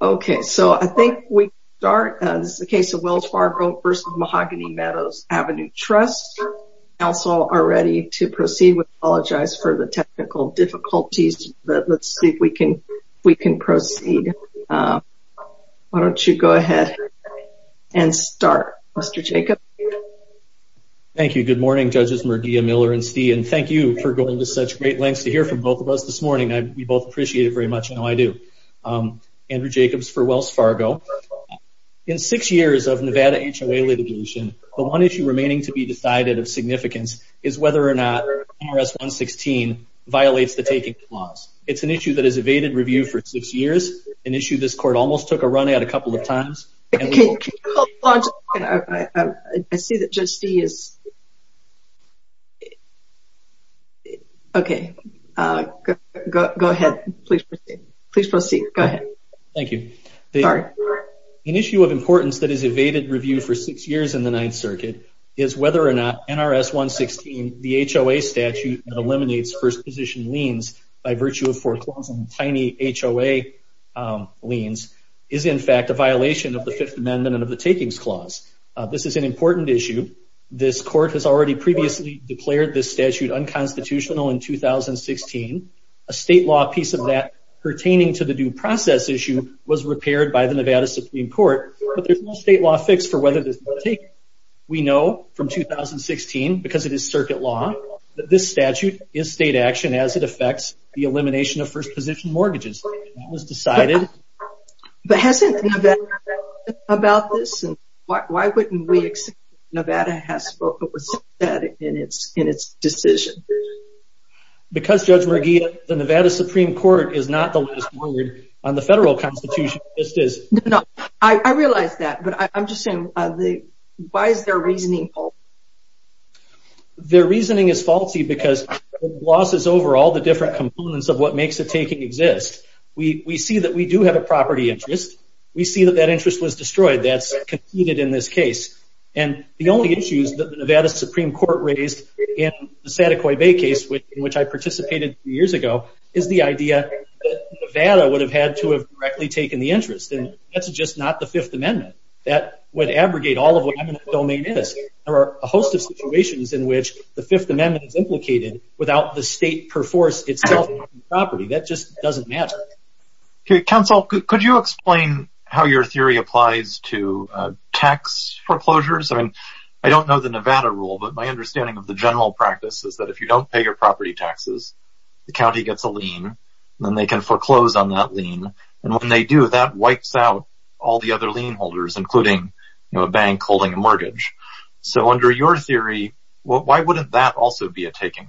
Okay, so I think we can start. This is the case of Wells Fargo v. Mahogany Meadows Avenue Trust. Council are ready to proceed. We apologize for the technical difficulties, but let's see if we can proceed. Why don't you go ahead and start, Mr. Jacob. Thank you. Good morning, Judges Murdia, Miller, and Stee. And thank you for going to such great lengths to hear from both of us this morning. We both appreciate it very much. I know I do. Andrew Jacobs for Wells Fargo. In six years of Nevada HOA litigation, the one issue remaining to be decided of significance is whether or not IRS 116 violates the taking clause. It's an issue that has evaded review for six years, an issue this Court almost took a run at a couple of times. I see that Judge Stee is... Okay. Go ahead. Please proceed. Please proceed. Go ahead. Thank you. An issue of importance that has evaded review for six years in the Ninth Circuit is whether or not NRS 116, the HOA statute that eliminates first position liens by virtue of four clauses and tiny HOA liens, is in fact a violation of the Fifth Amendment and of the takings clause. This is an important issue. This Court has already previously declared this statute unconstitutional in 2016. A state law piece of that pertaining to the due process issue was repaired by the Nevada Supreme Court, but there's no state law fix for whether this was taken. We know from 2016, because it is circuit law, that this statute is state action as it affects the elimination of first position mortgages. It was decided... But hasn't Nevada talked about this? Why wouldn't we accept that Nevada has spoken about this in its decision? Because, Judge Merguia, the Nevada Supreme Court is not the last word on the federal constitution. I realize that, but I'm just saying, why is their reasoning false? Their reasoning is faulty because it glosses over all the different components of what makes a taking exist. We see that we do have a property interest. We see that that interest was destroyed. That's conceded in this case. The only issues that the Nevada Supreme Court raised in the Santa Coy Bay case, in which I participated three years ago, is the idea that Nevada would have had to have directly taken the interest. That's just not the Fifth Amendment. That would abrogate all of what eminent domain is. There are a host of situations in which the Fifth Amendment is implicated without the state perforce itself on the property. That just doesn't matter. Counsel, could you explain how your theory applies to tax foreclosures? I don't know the Nevada rule, but my understanding of the general practice is that if you don't pay your property taxes, the county gets a lien, and then they can foreclose on that lien. When they do, that wipes out all the other lien holders, including a bank holding a mortgage. Under your theory, why wouldn't that also be a taking?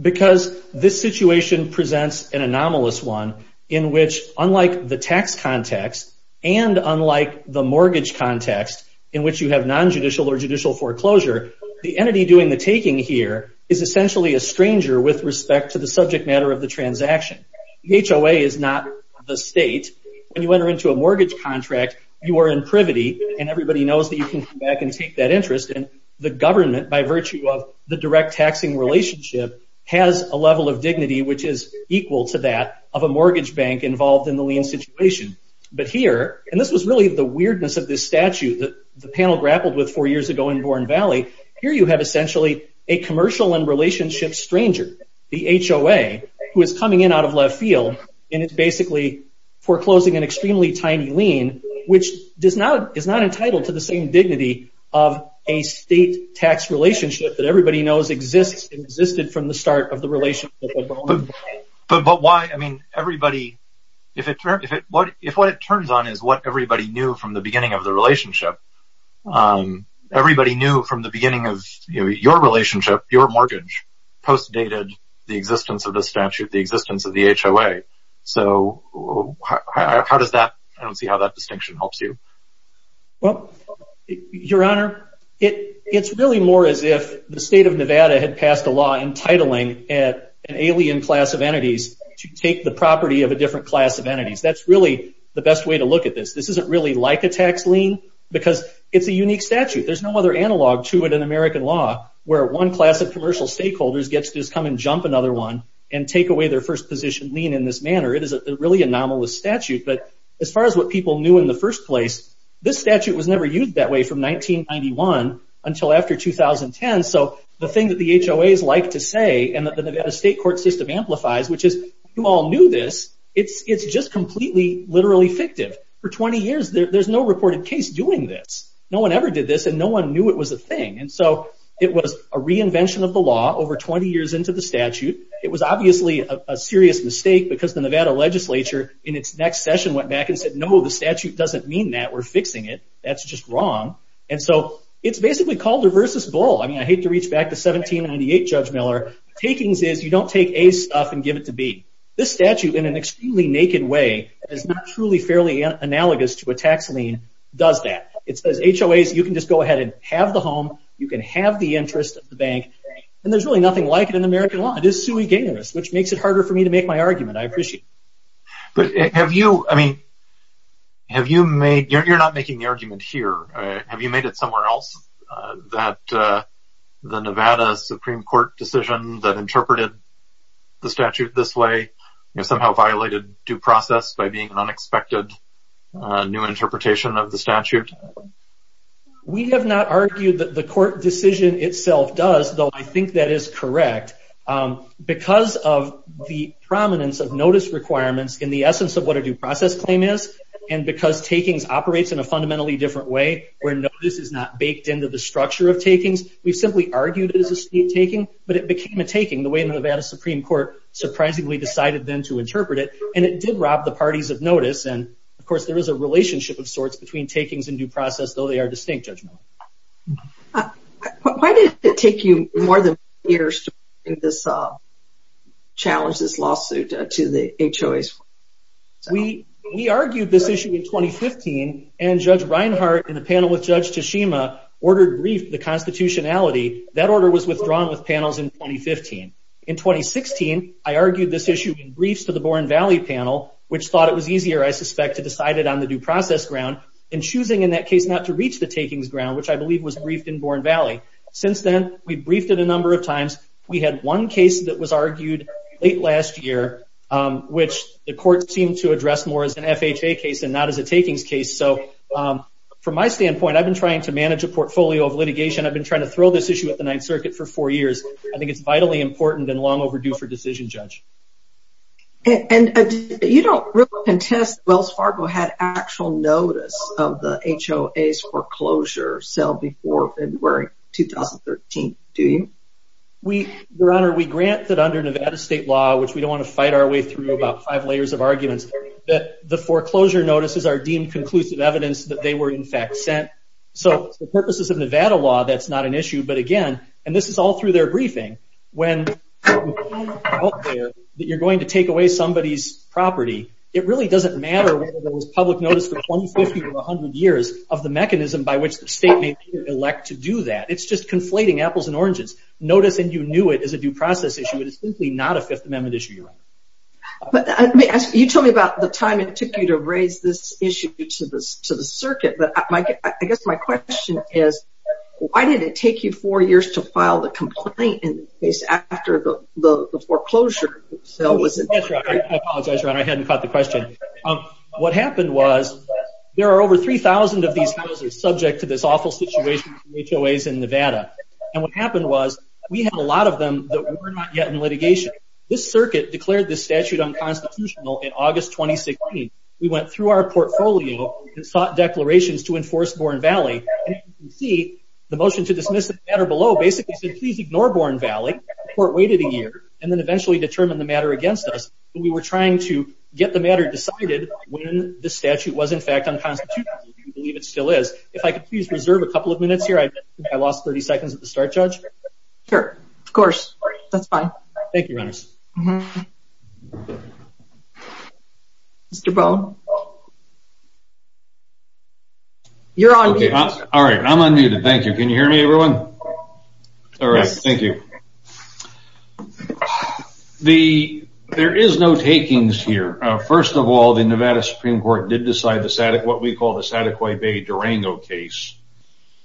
Because this situation presents an anomalous one in which, unlike the tax context, and unlike the mortgage context, in which you have non-judicial or judicial foreclosure, the entity doing the taking here is essentially a stranger with respect to the subject matter of the transaction. The HOA is not the state. When you enter into a mortgage contract, you are in privity, and everybody knows that you can come back and take that interest. The government, by virtue of the direct taxing relationship, has a level of dignity which is equal to that of a mortgage bank involved in the lien situation. But here, and this was really the weirdness of this statute that the panel grappled with four years ago in Bourne Valley, here you have essentially a commercial and relationship stranger, the HOA, who is coming in out of left field, and is basically foreclosing an extremely tiny lien, which is not entitled to the same dignity of a state tax relationship that everybody knows existed from the start of the relationship. But why, I mean, everybody, if what it turns on is what everybody knew from the beginning of the relationship, everybody knew from the beginning of your relationship, your mortgage, post-dated the existence of the statute, the existence of the HOA. So how does that, I don't see how that distinction helps you. Well, Your Honor, it's really more as if the state of Nevada had passed a law entitling an alien class of entities to take the property of a different class of entities. That's really the best way to look at this. This isn't really like a tax lien because it's a unique statute. There's no other analog to it in American law where one class of commercial stakeholders gets to just come and jump another one and take away their first position lien in this manner. It is a really anomalous statute. But as far as what people knew in the first place, this statute was never used that way from 1991 until after 2010. So the thing that the HOAs like to say and that the Nevada State Court system amplifies, which is, you all knew this, it's just completely, literally fictive. For 20 years, there's no reported case doing this. No one ever did this, and no one knew it was a thing. And so it was a reinvention of the law over 20 years into the statute. It was obviously a serious mistake because the Nevada legislature in its next session went back and said, no, the statute doesn't mean that. We're fixing it. That's just wrong. And so it's basically called the reverse's bull. I mean, I hate to reach back to 1798, Judge Miller. Takings is you don't take A's stuff and give it to B. This statute, in an extremely naked way, is not truly fairly analogous to a tax lien. It does that. It says HOAs, you can just go ahead and have the home. You can have the interest of the bank. And there's really nothing like it in American law. It is sui generis, which makes it harder for me to make my argument. I appreciate it. But have you, I mean, have you made, you're not making the argument here. Have you made it somewhere else that the Nevada Supreme Court decision that interpreted the statute this way somehow violated due process by being an unexpected new interpretation of the statute? We have not argued that the court decision itself does, though I think that is correct. Because of the prominence of notice requirements in the essence of what a due process claim is and because takings operates in a fundamentally different way where notice is not baked into the structure of takings, we simply argued it as a state taking, but it became a taking the way the Nevada Supreme Court surprisingly decided then to interpret it. And it did rob the parties of notice. And, of course, there is a relationship of sorts between takings and due process, though they are distinct judgmental. Why did it take you more than years to challenge this lawsuit to the HOA? We argued this issue in 2015, and Judge Reinhart in a panel with Judge Tashima ordered a brief to the constitutionality. That order was withdrawn with panels in 2015. In 2016, I argued this issue in briefs to the Born Valley panel, which thought it was easier, I suspect, to decide it on the due process ground, and choosing in that case not to reach the takings ground, which I believe was briefed in Born Valley. Since then, we've briefed it a number of times. We had one case that was argued late last year, which the court seemed to address more as an FHA case and not as a takings case. So from my standpoint, I've been trying to manage a portfolio of litigation. I've been trying to throw this issue at the Ninth Circuit for four years. I think it's vitally important and long overdue for decision, Judge. And you don't really contest that Wells Fargo had actual notice of the HOA's foreclosure sale before February 2013, do you? Your Honor, we grant that under Nevada state law, which we don't want to fight our way through about five layers of arguments, that the foreclosure notices are deemed conclusive evidence that they were in fact sent. So for purposes of Nevada law, that's not an issue. But again, and this is all through their briefing, when you're going to take away somebody's property, it really doesn't matter whether there was public notice for 20, 50, or 100 years of the mechanism by which the state may elect to do that. It's just conflating apples and oranges. Notice and you knew it is a due process issue. It is simply not a Fifth Amendment issue, Your Honor. You told me about the time it took you to raise this issue to the circuit. But I guess my question is, why did it take you four years to file the complaint in the case after the foreclosure sale? I apologize, Your Honor. I hadn't caught the question. What happened was there are over 3,000 of these houses subject to this awful situation of HOAs in Nevada. And what happened was we had a lot of them that were not yet in litigation. This circuit declared this statute unconstitutional in August 2016. We went through our portfolio and sought declarations to enforce Bourne Valley. And as you can see, the motion to dismiss the matter below basically said, please ignore Bourne Valley. The court waited a year and then eventually determined the matter against us. But we were trying to get the matter decided when the statute was, in fact, unconstitutional. We believe it still is. If I could please reserve a couple of minutes here. I lost 30 seconds at the start, Judge. Sure. Of course. That's fine. Thank you, Your Honor. Mr. Boe? You're on mute. All right. I'm unmuted. Thank you. Can you hear me, everyone? Yes. All right. Thank you. There is no takings here. First of all, the Nevada Supreme Court did decide what we call the Sataquai Bay Durango case,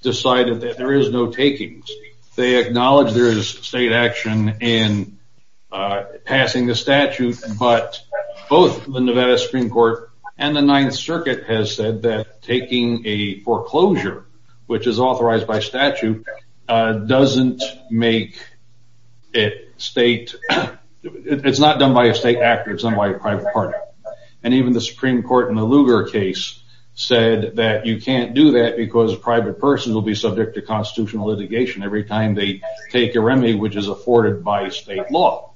decided that there is no takings. They acknowledge there is state action in passing the statute. But both the Nevada Supreme Court and the Ninth Circuit have said that taking a foreclosure, which is authorized by statute, doesn't make it state. It's not done by a state actor. It's done by a private party. And even the Supreme Court in the Lugar case said that you can't do that because a private person will be subject to constitutional litigation every time they take a remedy which is afforded by state law.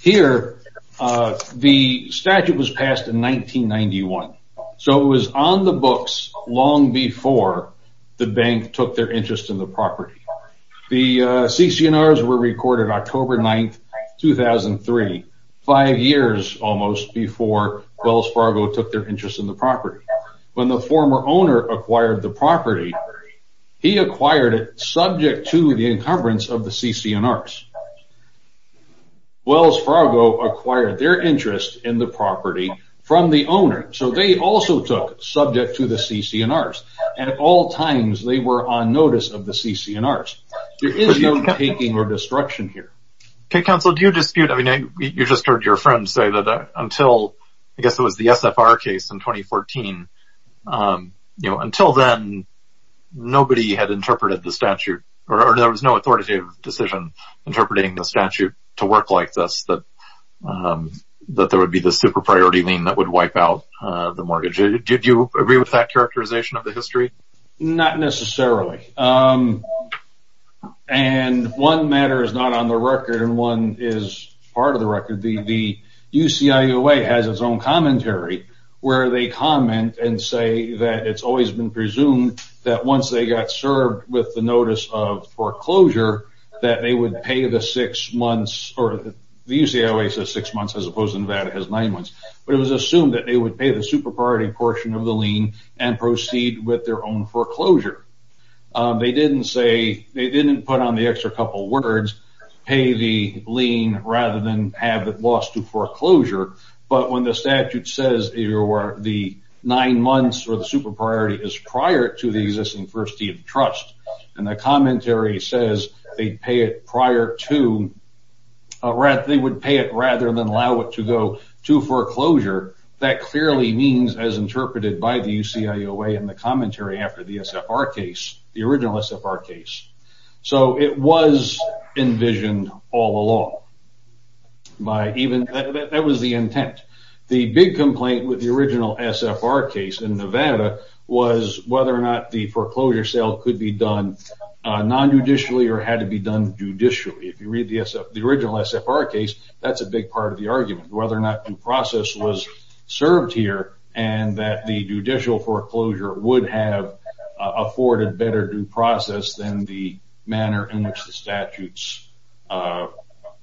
Here, the statute was passed in 1991. So it was on the books long before the bank took their interest in the property. The CC&Rs were recorded October 9, 2003, five years almost before Wells Fargo took their interest in the property. When the former owner acquired the property, he acquired it subject to the encumbrance of the CC&Rs. Wells Fargo acquired their interest in the property from the owner. So they also took subject to the CC&Rs. And at all times, they were on notice of the CC&Rs. There is no taking or destruction here. Okay, counsel, do you dispute, I mean, you just heard your friend say that until, I guess it was the SFR case in 2014, you know, until then, nobody had interpreted the statute, or there was no authoritative decision interpreting the statute to work like this, that there would be the super priority lien that would wipe out the mortgage. Did you agree with that characterization of the history? Not necessarily. And one matter is not on the record, and one is part of the record. The UCIOA has its own commentary where they comment and say that it's always been presumed that once they got served with the notice of foreclosure, that they would pay the six months, or the UCIOA says six months as opposed to Nevada has nine months. But it was assumed that they would pay the super priority portion of the lien and proceed with their own foreclosure. They didn't say, they didn't put on the extra couple words, pay the lien rather than have it lost to foreclosure. But when the statute says the nine months or the super priority is prior to the existing first deed of trust, and the commentary says they would pay it rather than allow it to go to foreclosure, that clearly means as interpreted by the UCIOA in the commentary after the SFR case, the original SFR case. So it was envisioned all along. That was the intent. The big complaint with the original SFR case in Nevada was whether or not the foreclosure sale could be done nonjudicially or had to be done judicially. If you read the original SFR case, that's a big part of the argument, whether or not due process was served here, and that the judicial foreclosure would have afforded better due process than the manner in which the statutes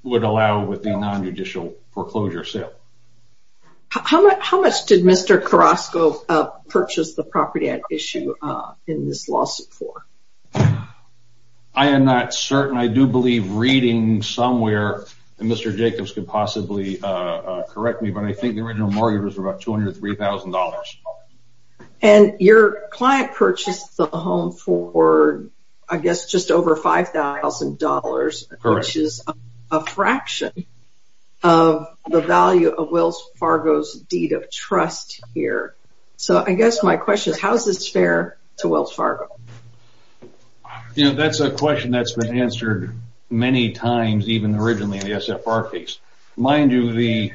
would allow with the nonjudicial foreclosure sale. How much did Mr. Carrasco purchase the property at issue in this lawsuit for? I am not certain. I do believe reading somewhere, and Mr. Jacobs could possibly correct me, but I think the original mortgage was about $203,000. And your client purchased the home for, I guess, just over $5,000, which is a fraction of the value of Wells Fargo's deed of trust here. So I guess my question is, how is this fair to Wells Fargo? That's a question that's been answered many times, even originally in the SFR case. Mind you, the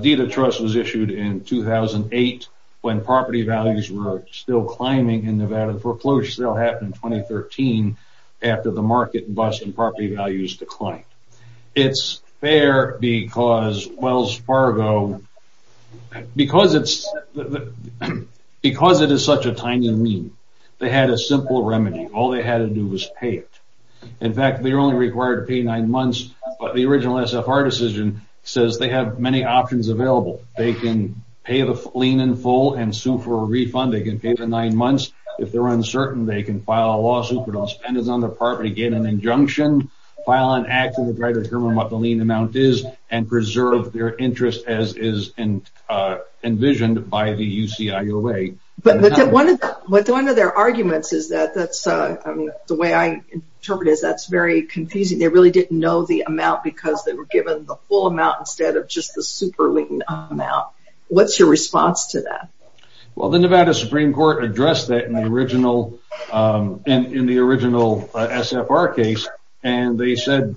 deed of trust was issued in 2008 when property values were still climbing in Nevada. The foreclosure sale happened in 2013 after the market bust and property values declined. It's fair because Wells Fargo, because it is such a tiny mean, they had a simple remedy. All they had to do was pay it. In fact, they were only required to pay nine months, but the original SFR decision says they have many options available. They can pay the lien in full and sue for a refund. They can pay the nine months. If they're uncertain, they can file a lawsuit but don't spend it on the property, get an injunction, file an act to determine what the lien amount is, and preserve their interest as is envisioned by the UCIOA. But one of their arguments is that, the way I interpret it, that's very confusing. They really didn't know the amount because they were given the full amount instead of just the super lien amount. What's your response to that? Well, the Nevada Supreme Court addressed that in the original SFR case, and they said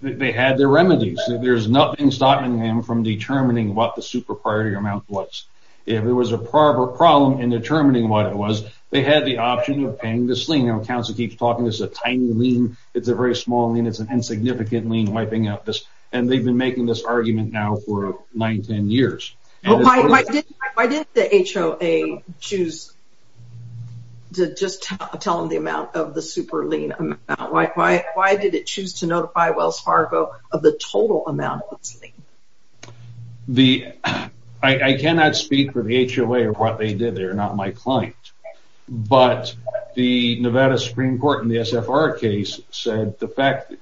they had their remedies. There's nothing stopping them from determining what the super priority amount was. If there was a problem in determining what it was, they had the option of paying this lien. Council keeps talking, this is a tiny lien. It's a very small lien. It's an insignificant lien wiping out this, and they've been making this argument now for nine, ten years. Why didn't the HOA choose to just tell them the amount of the super lien amount? Why did it choose to notify Wells Fargo of the total amount of this lien? I cannot speak for the HOA or what they did. They are not my client. But the Nevada Supreme Court in the SFR case said the fact that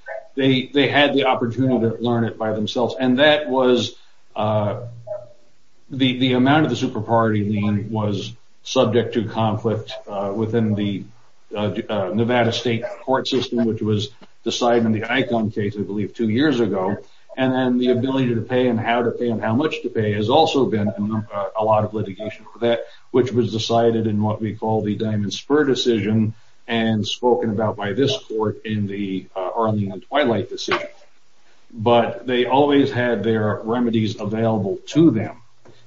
they had the opportunity to learn it by themselves, and that was the amount of the super priority lien was subject to conflict within the Nevada state court system, which was decided in the ICON case, I believe, two years ago. And then the ability to pay and how to pay and how much to pay has also been a lot of litigation for that, which was decided in what we call the Diamond Spur decision and spoken about by this court in the Arlene and Twilight decision. But they always had their remedies available to them,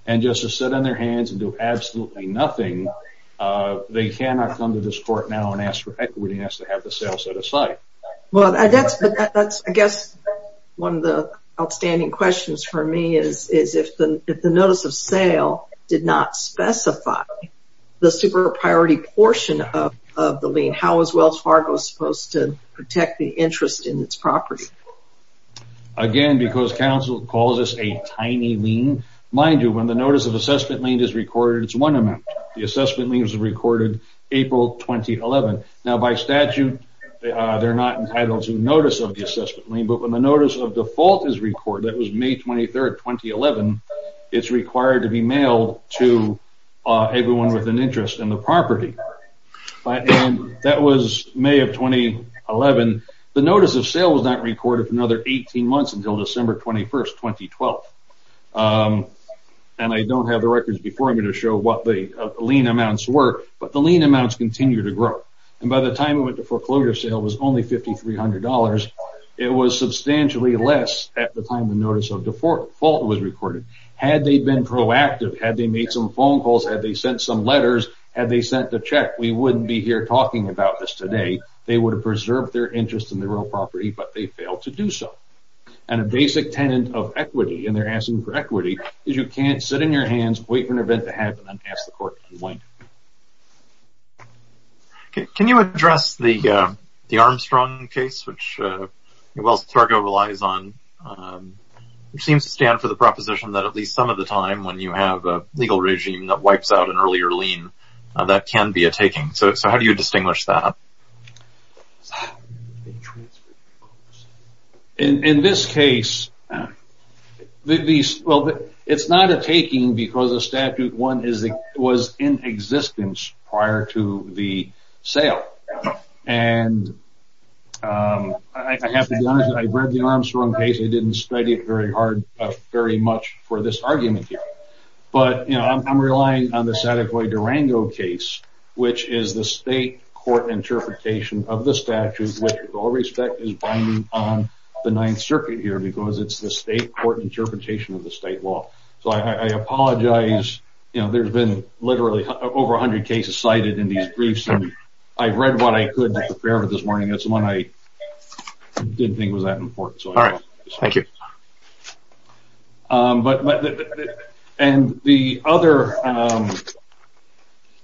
and just to sit on their hands and do absolutely nothing, they cannot come to this court now and ask for equity and ask to have the sale set aside. I guess one of the outstanding questions for me is if the notice of sale did not specify the super priority portion of the lien, how is Wells Fargo supposed to protect the interest in its property? Again, because counsel calls this a tiny lien, mind you, when the notice of assessment lien is recorded, it's one amount. The assessment lien is recorded April 2011. Now, by statute, they're not entitled to notice of the assessment lien, but when the notice of default is recorded, that was May 23rd, 2011, it's required to be mailed to everyone with an interest in the property. And that was May of 2011. The notice of sale was not recorded for another 18 months until December 21st, 2012. And I don't have the records before me to show what the lien amounts were, but the lien amounts continue to grow. And by the time it went to foreclosure sale, it was only $5,300. It was substantially less at the time the notice of default was recorded. Had they been proactive, had they made some phone calls, had they sent some letters, had they sent the check, we wouldn't be here talking about this today. They would have preserved their interest in the real property, but they failed to do so. And a basic tenet of equity, and they're asking for equity, is you can't sit in your hands, wait for an event to happen, and ask the court to wind up. Can you address the Armstrong case, which Wells Fargo relies on, which seems to stand for the proposition that at least some of the time, when you have a legal regime that wipes out an earlier lien, that can be a taking. So how do you distinguish that? In this case, it's not a taking because the statute one was in existence prior to the sale. And I have to be honest, I read the Armstrong case. I didn't study it very hard, very much for this argument here. But I'm relying on the Sadecoy Durango case, which is the state court interpretation of the statute, which, with all respect, is binding on the Ninth Circuit here, because it's the state court interpretation of the state law. So I apologize. You know, there's been literally over 100 cases cited in these briefs, and I've read what I could prepare for this morning. That's the one I didn't think was that important. All right. Thank you. And the other, I'm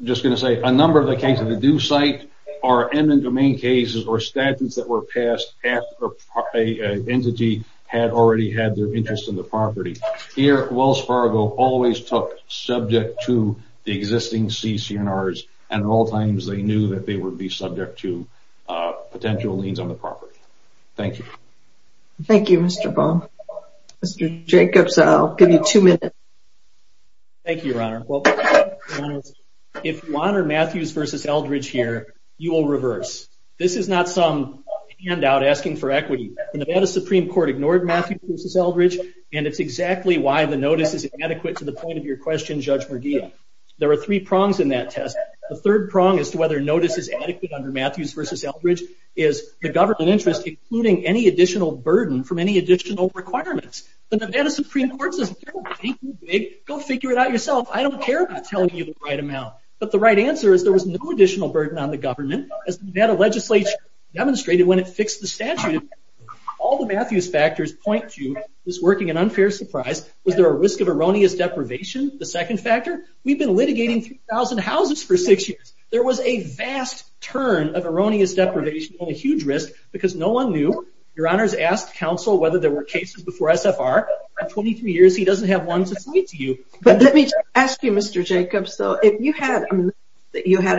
just going to say, a number of the cases that do cite are in the domain cases or statutes that were passed after an entity had already had their interest in the property. Here, Wells Fargo always took subject to the existing CCNRs, and at all times they knew that they would be subject to potential liens on the property. Thank you. Thank you, Mr. Bohm. Mr. Jacobs, I'll give you two minutes. Thank you, Your Honor. Well, if you honor Matthews v. Eldridge here, you will reverse. This is not some handout asking for equity. The Nevada Supreme Court ignored Matthews v. Eldridge, and it's exactly why the notice is inadequate to the point of your question, Judge Merguia. There are three prongs in that test. The third prong as to whether a notice is adequate under Matthews v. Eldridge is the government interest, including any additional burden from any additional requirements. The Nevada Supreme Court says, go figure it out yourself. I don't care about telling you the right amount. But the right answer is there was no additional burden on the government. As Nevada legislature demonstrated when it fixed the statute, all the Matthews factors point to this working an unfair surprise. Was there a risk of erroneous deprivation, the second factor? We've been litigating 3,000 houses for six years. There was a vast turn of erroneous deprivation and a huge risk because no one knew. Your Honor has asked counsel whether there were cases before SFR. In 23 years, he doesn't have one to cite to you. But let me ask you, Mr. Jacobs, though, if you had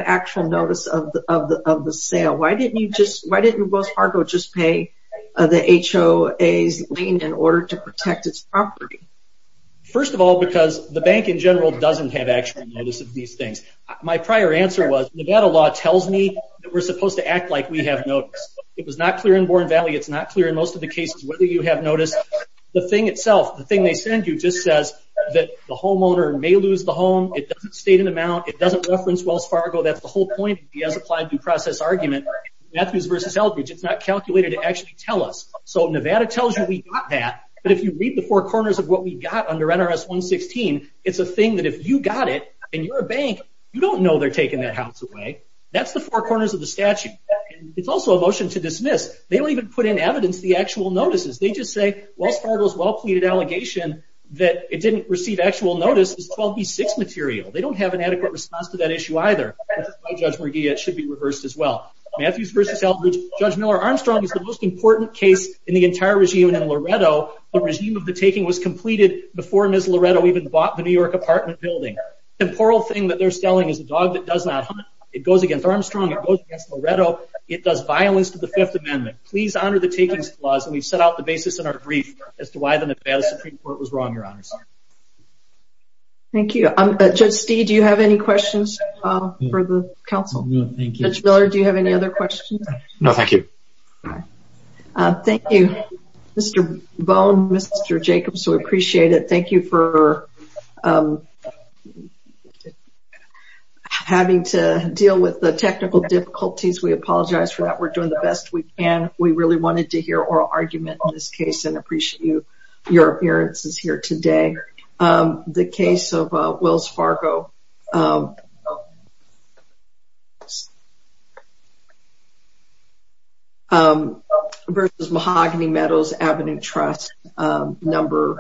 actual notice of the sale, why didn't you just, why didn't Ubos Fargo just pay the HOA's lien in order to protect its property? First of all, because the bank in general doesn't have actual notice of these things. My prior answer was Nevada law tells me that we're supposed to act like we have notice. It was not clear in Bourne Valley. It's not clear in most of the cases whether you have notice. The thing itself, the thing they send you just says that the homeowner may lose the home. It doesn't state an amount. It doesn't reference Wells Fargo. That's the whole point of the as-applied due process argument. Matthews versus Eldridge, it's not calculated to actually tell us. So Nevada tells you we got that. But if you read the four corners of what we got under NRS 116, it's a thing that if you got it and you're a bank, you don't know they're taking that house away. That's the four corners of the statute. It's also a motion to dismiss. They don't even put in evidence the actual notices. They just say Wells Fargo's well-pleaded allegation that it didn't receive actual notice is 12B6 material. They don't have an adequate response to that issue either. That's why Judge McGee, it should be reversed as well. Matthews versus Eldridge, Judge Miller-Armstrong is the most important case in the entire regime. The regime of the taking was completed before Ms. Loretto even bought the New York apartment building. The temporal thing that they're selling is a dog that does not hunt. It goes against Armstrong. It goes against Loretto. It does violence to the Fifth Amendment. Please honor the takings clause, and we've set out the basis in our brief as to why the Nevada Supreme Court was wrong, Your Honors. Thank you. Judge Stee, do you have any questions for the counsel? No, thank you. Judge Miller, do you have any other questions? No, thank you. Thank you, Mr. Bone, Mr. Jacobs. We appreciate it. Thank you for having to deal with the technical difficulties. We apologize for that. We're doing the best we can. We really wanted to hear oral argument in this case and appreciate your appearances here today. The case of Wells Fargo versus Mahogany Meadows Avenue Trust, case number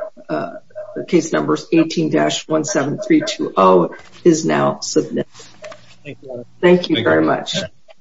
18-17320 is now submitted. Thank you. Thank you very much.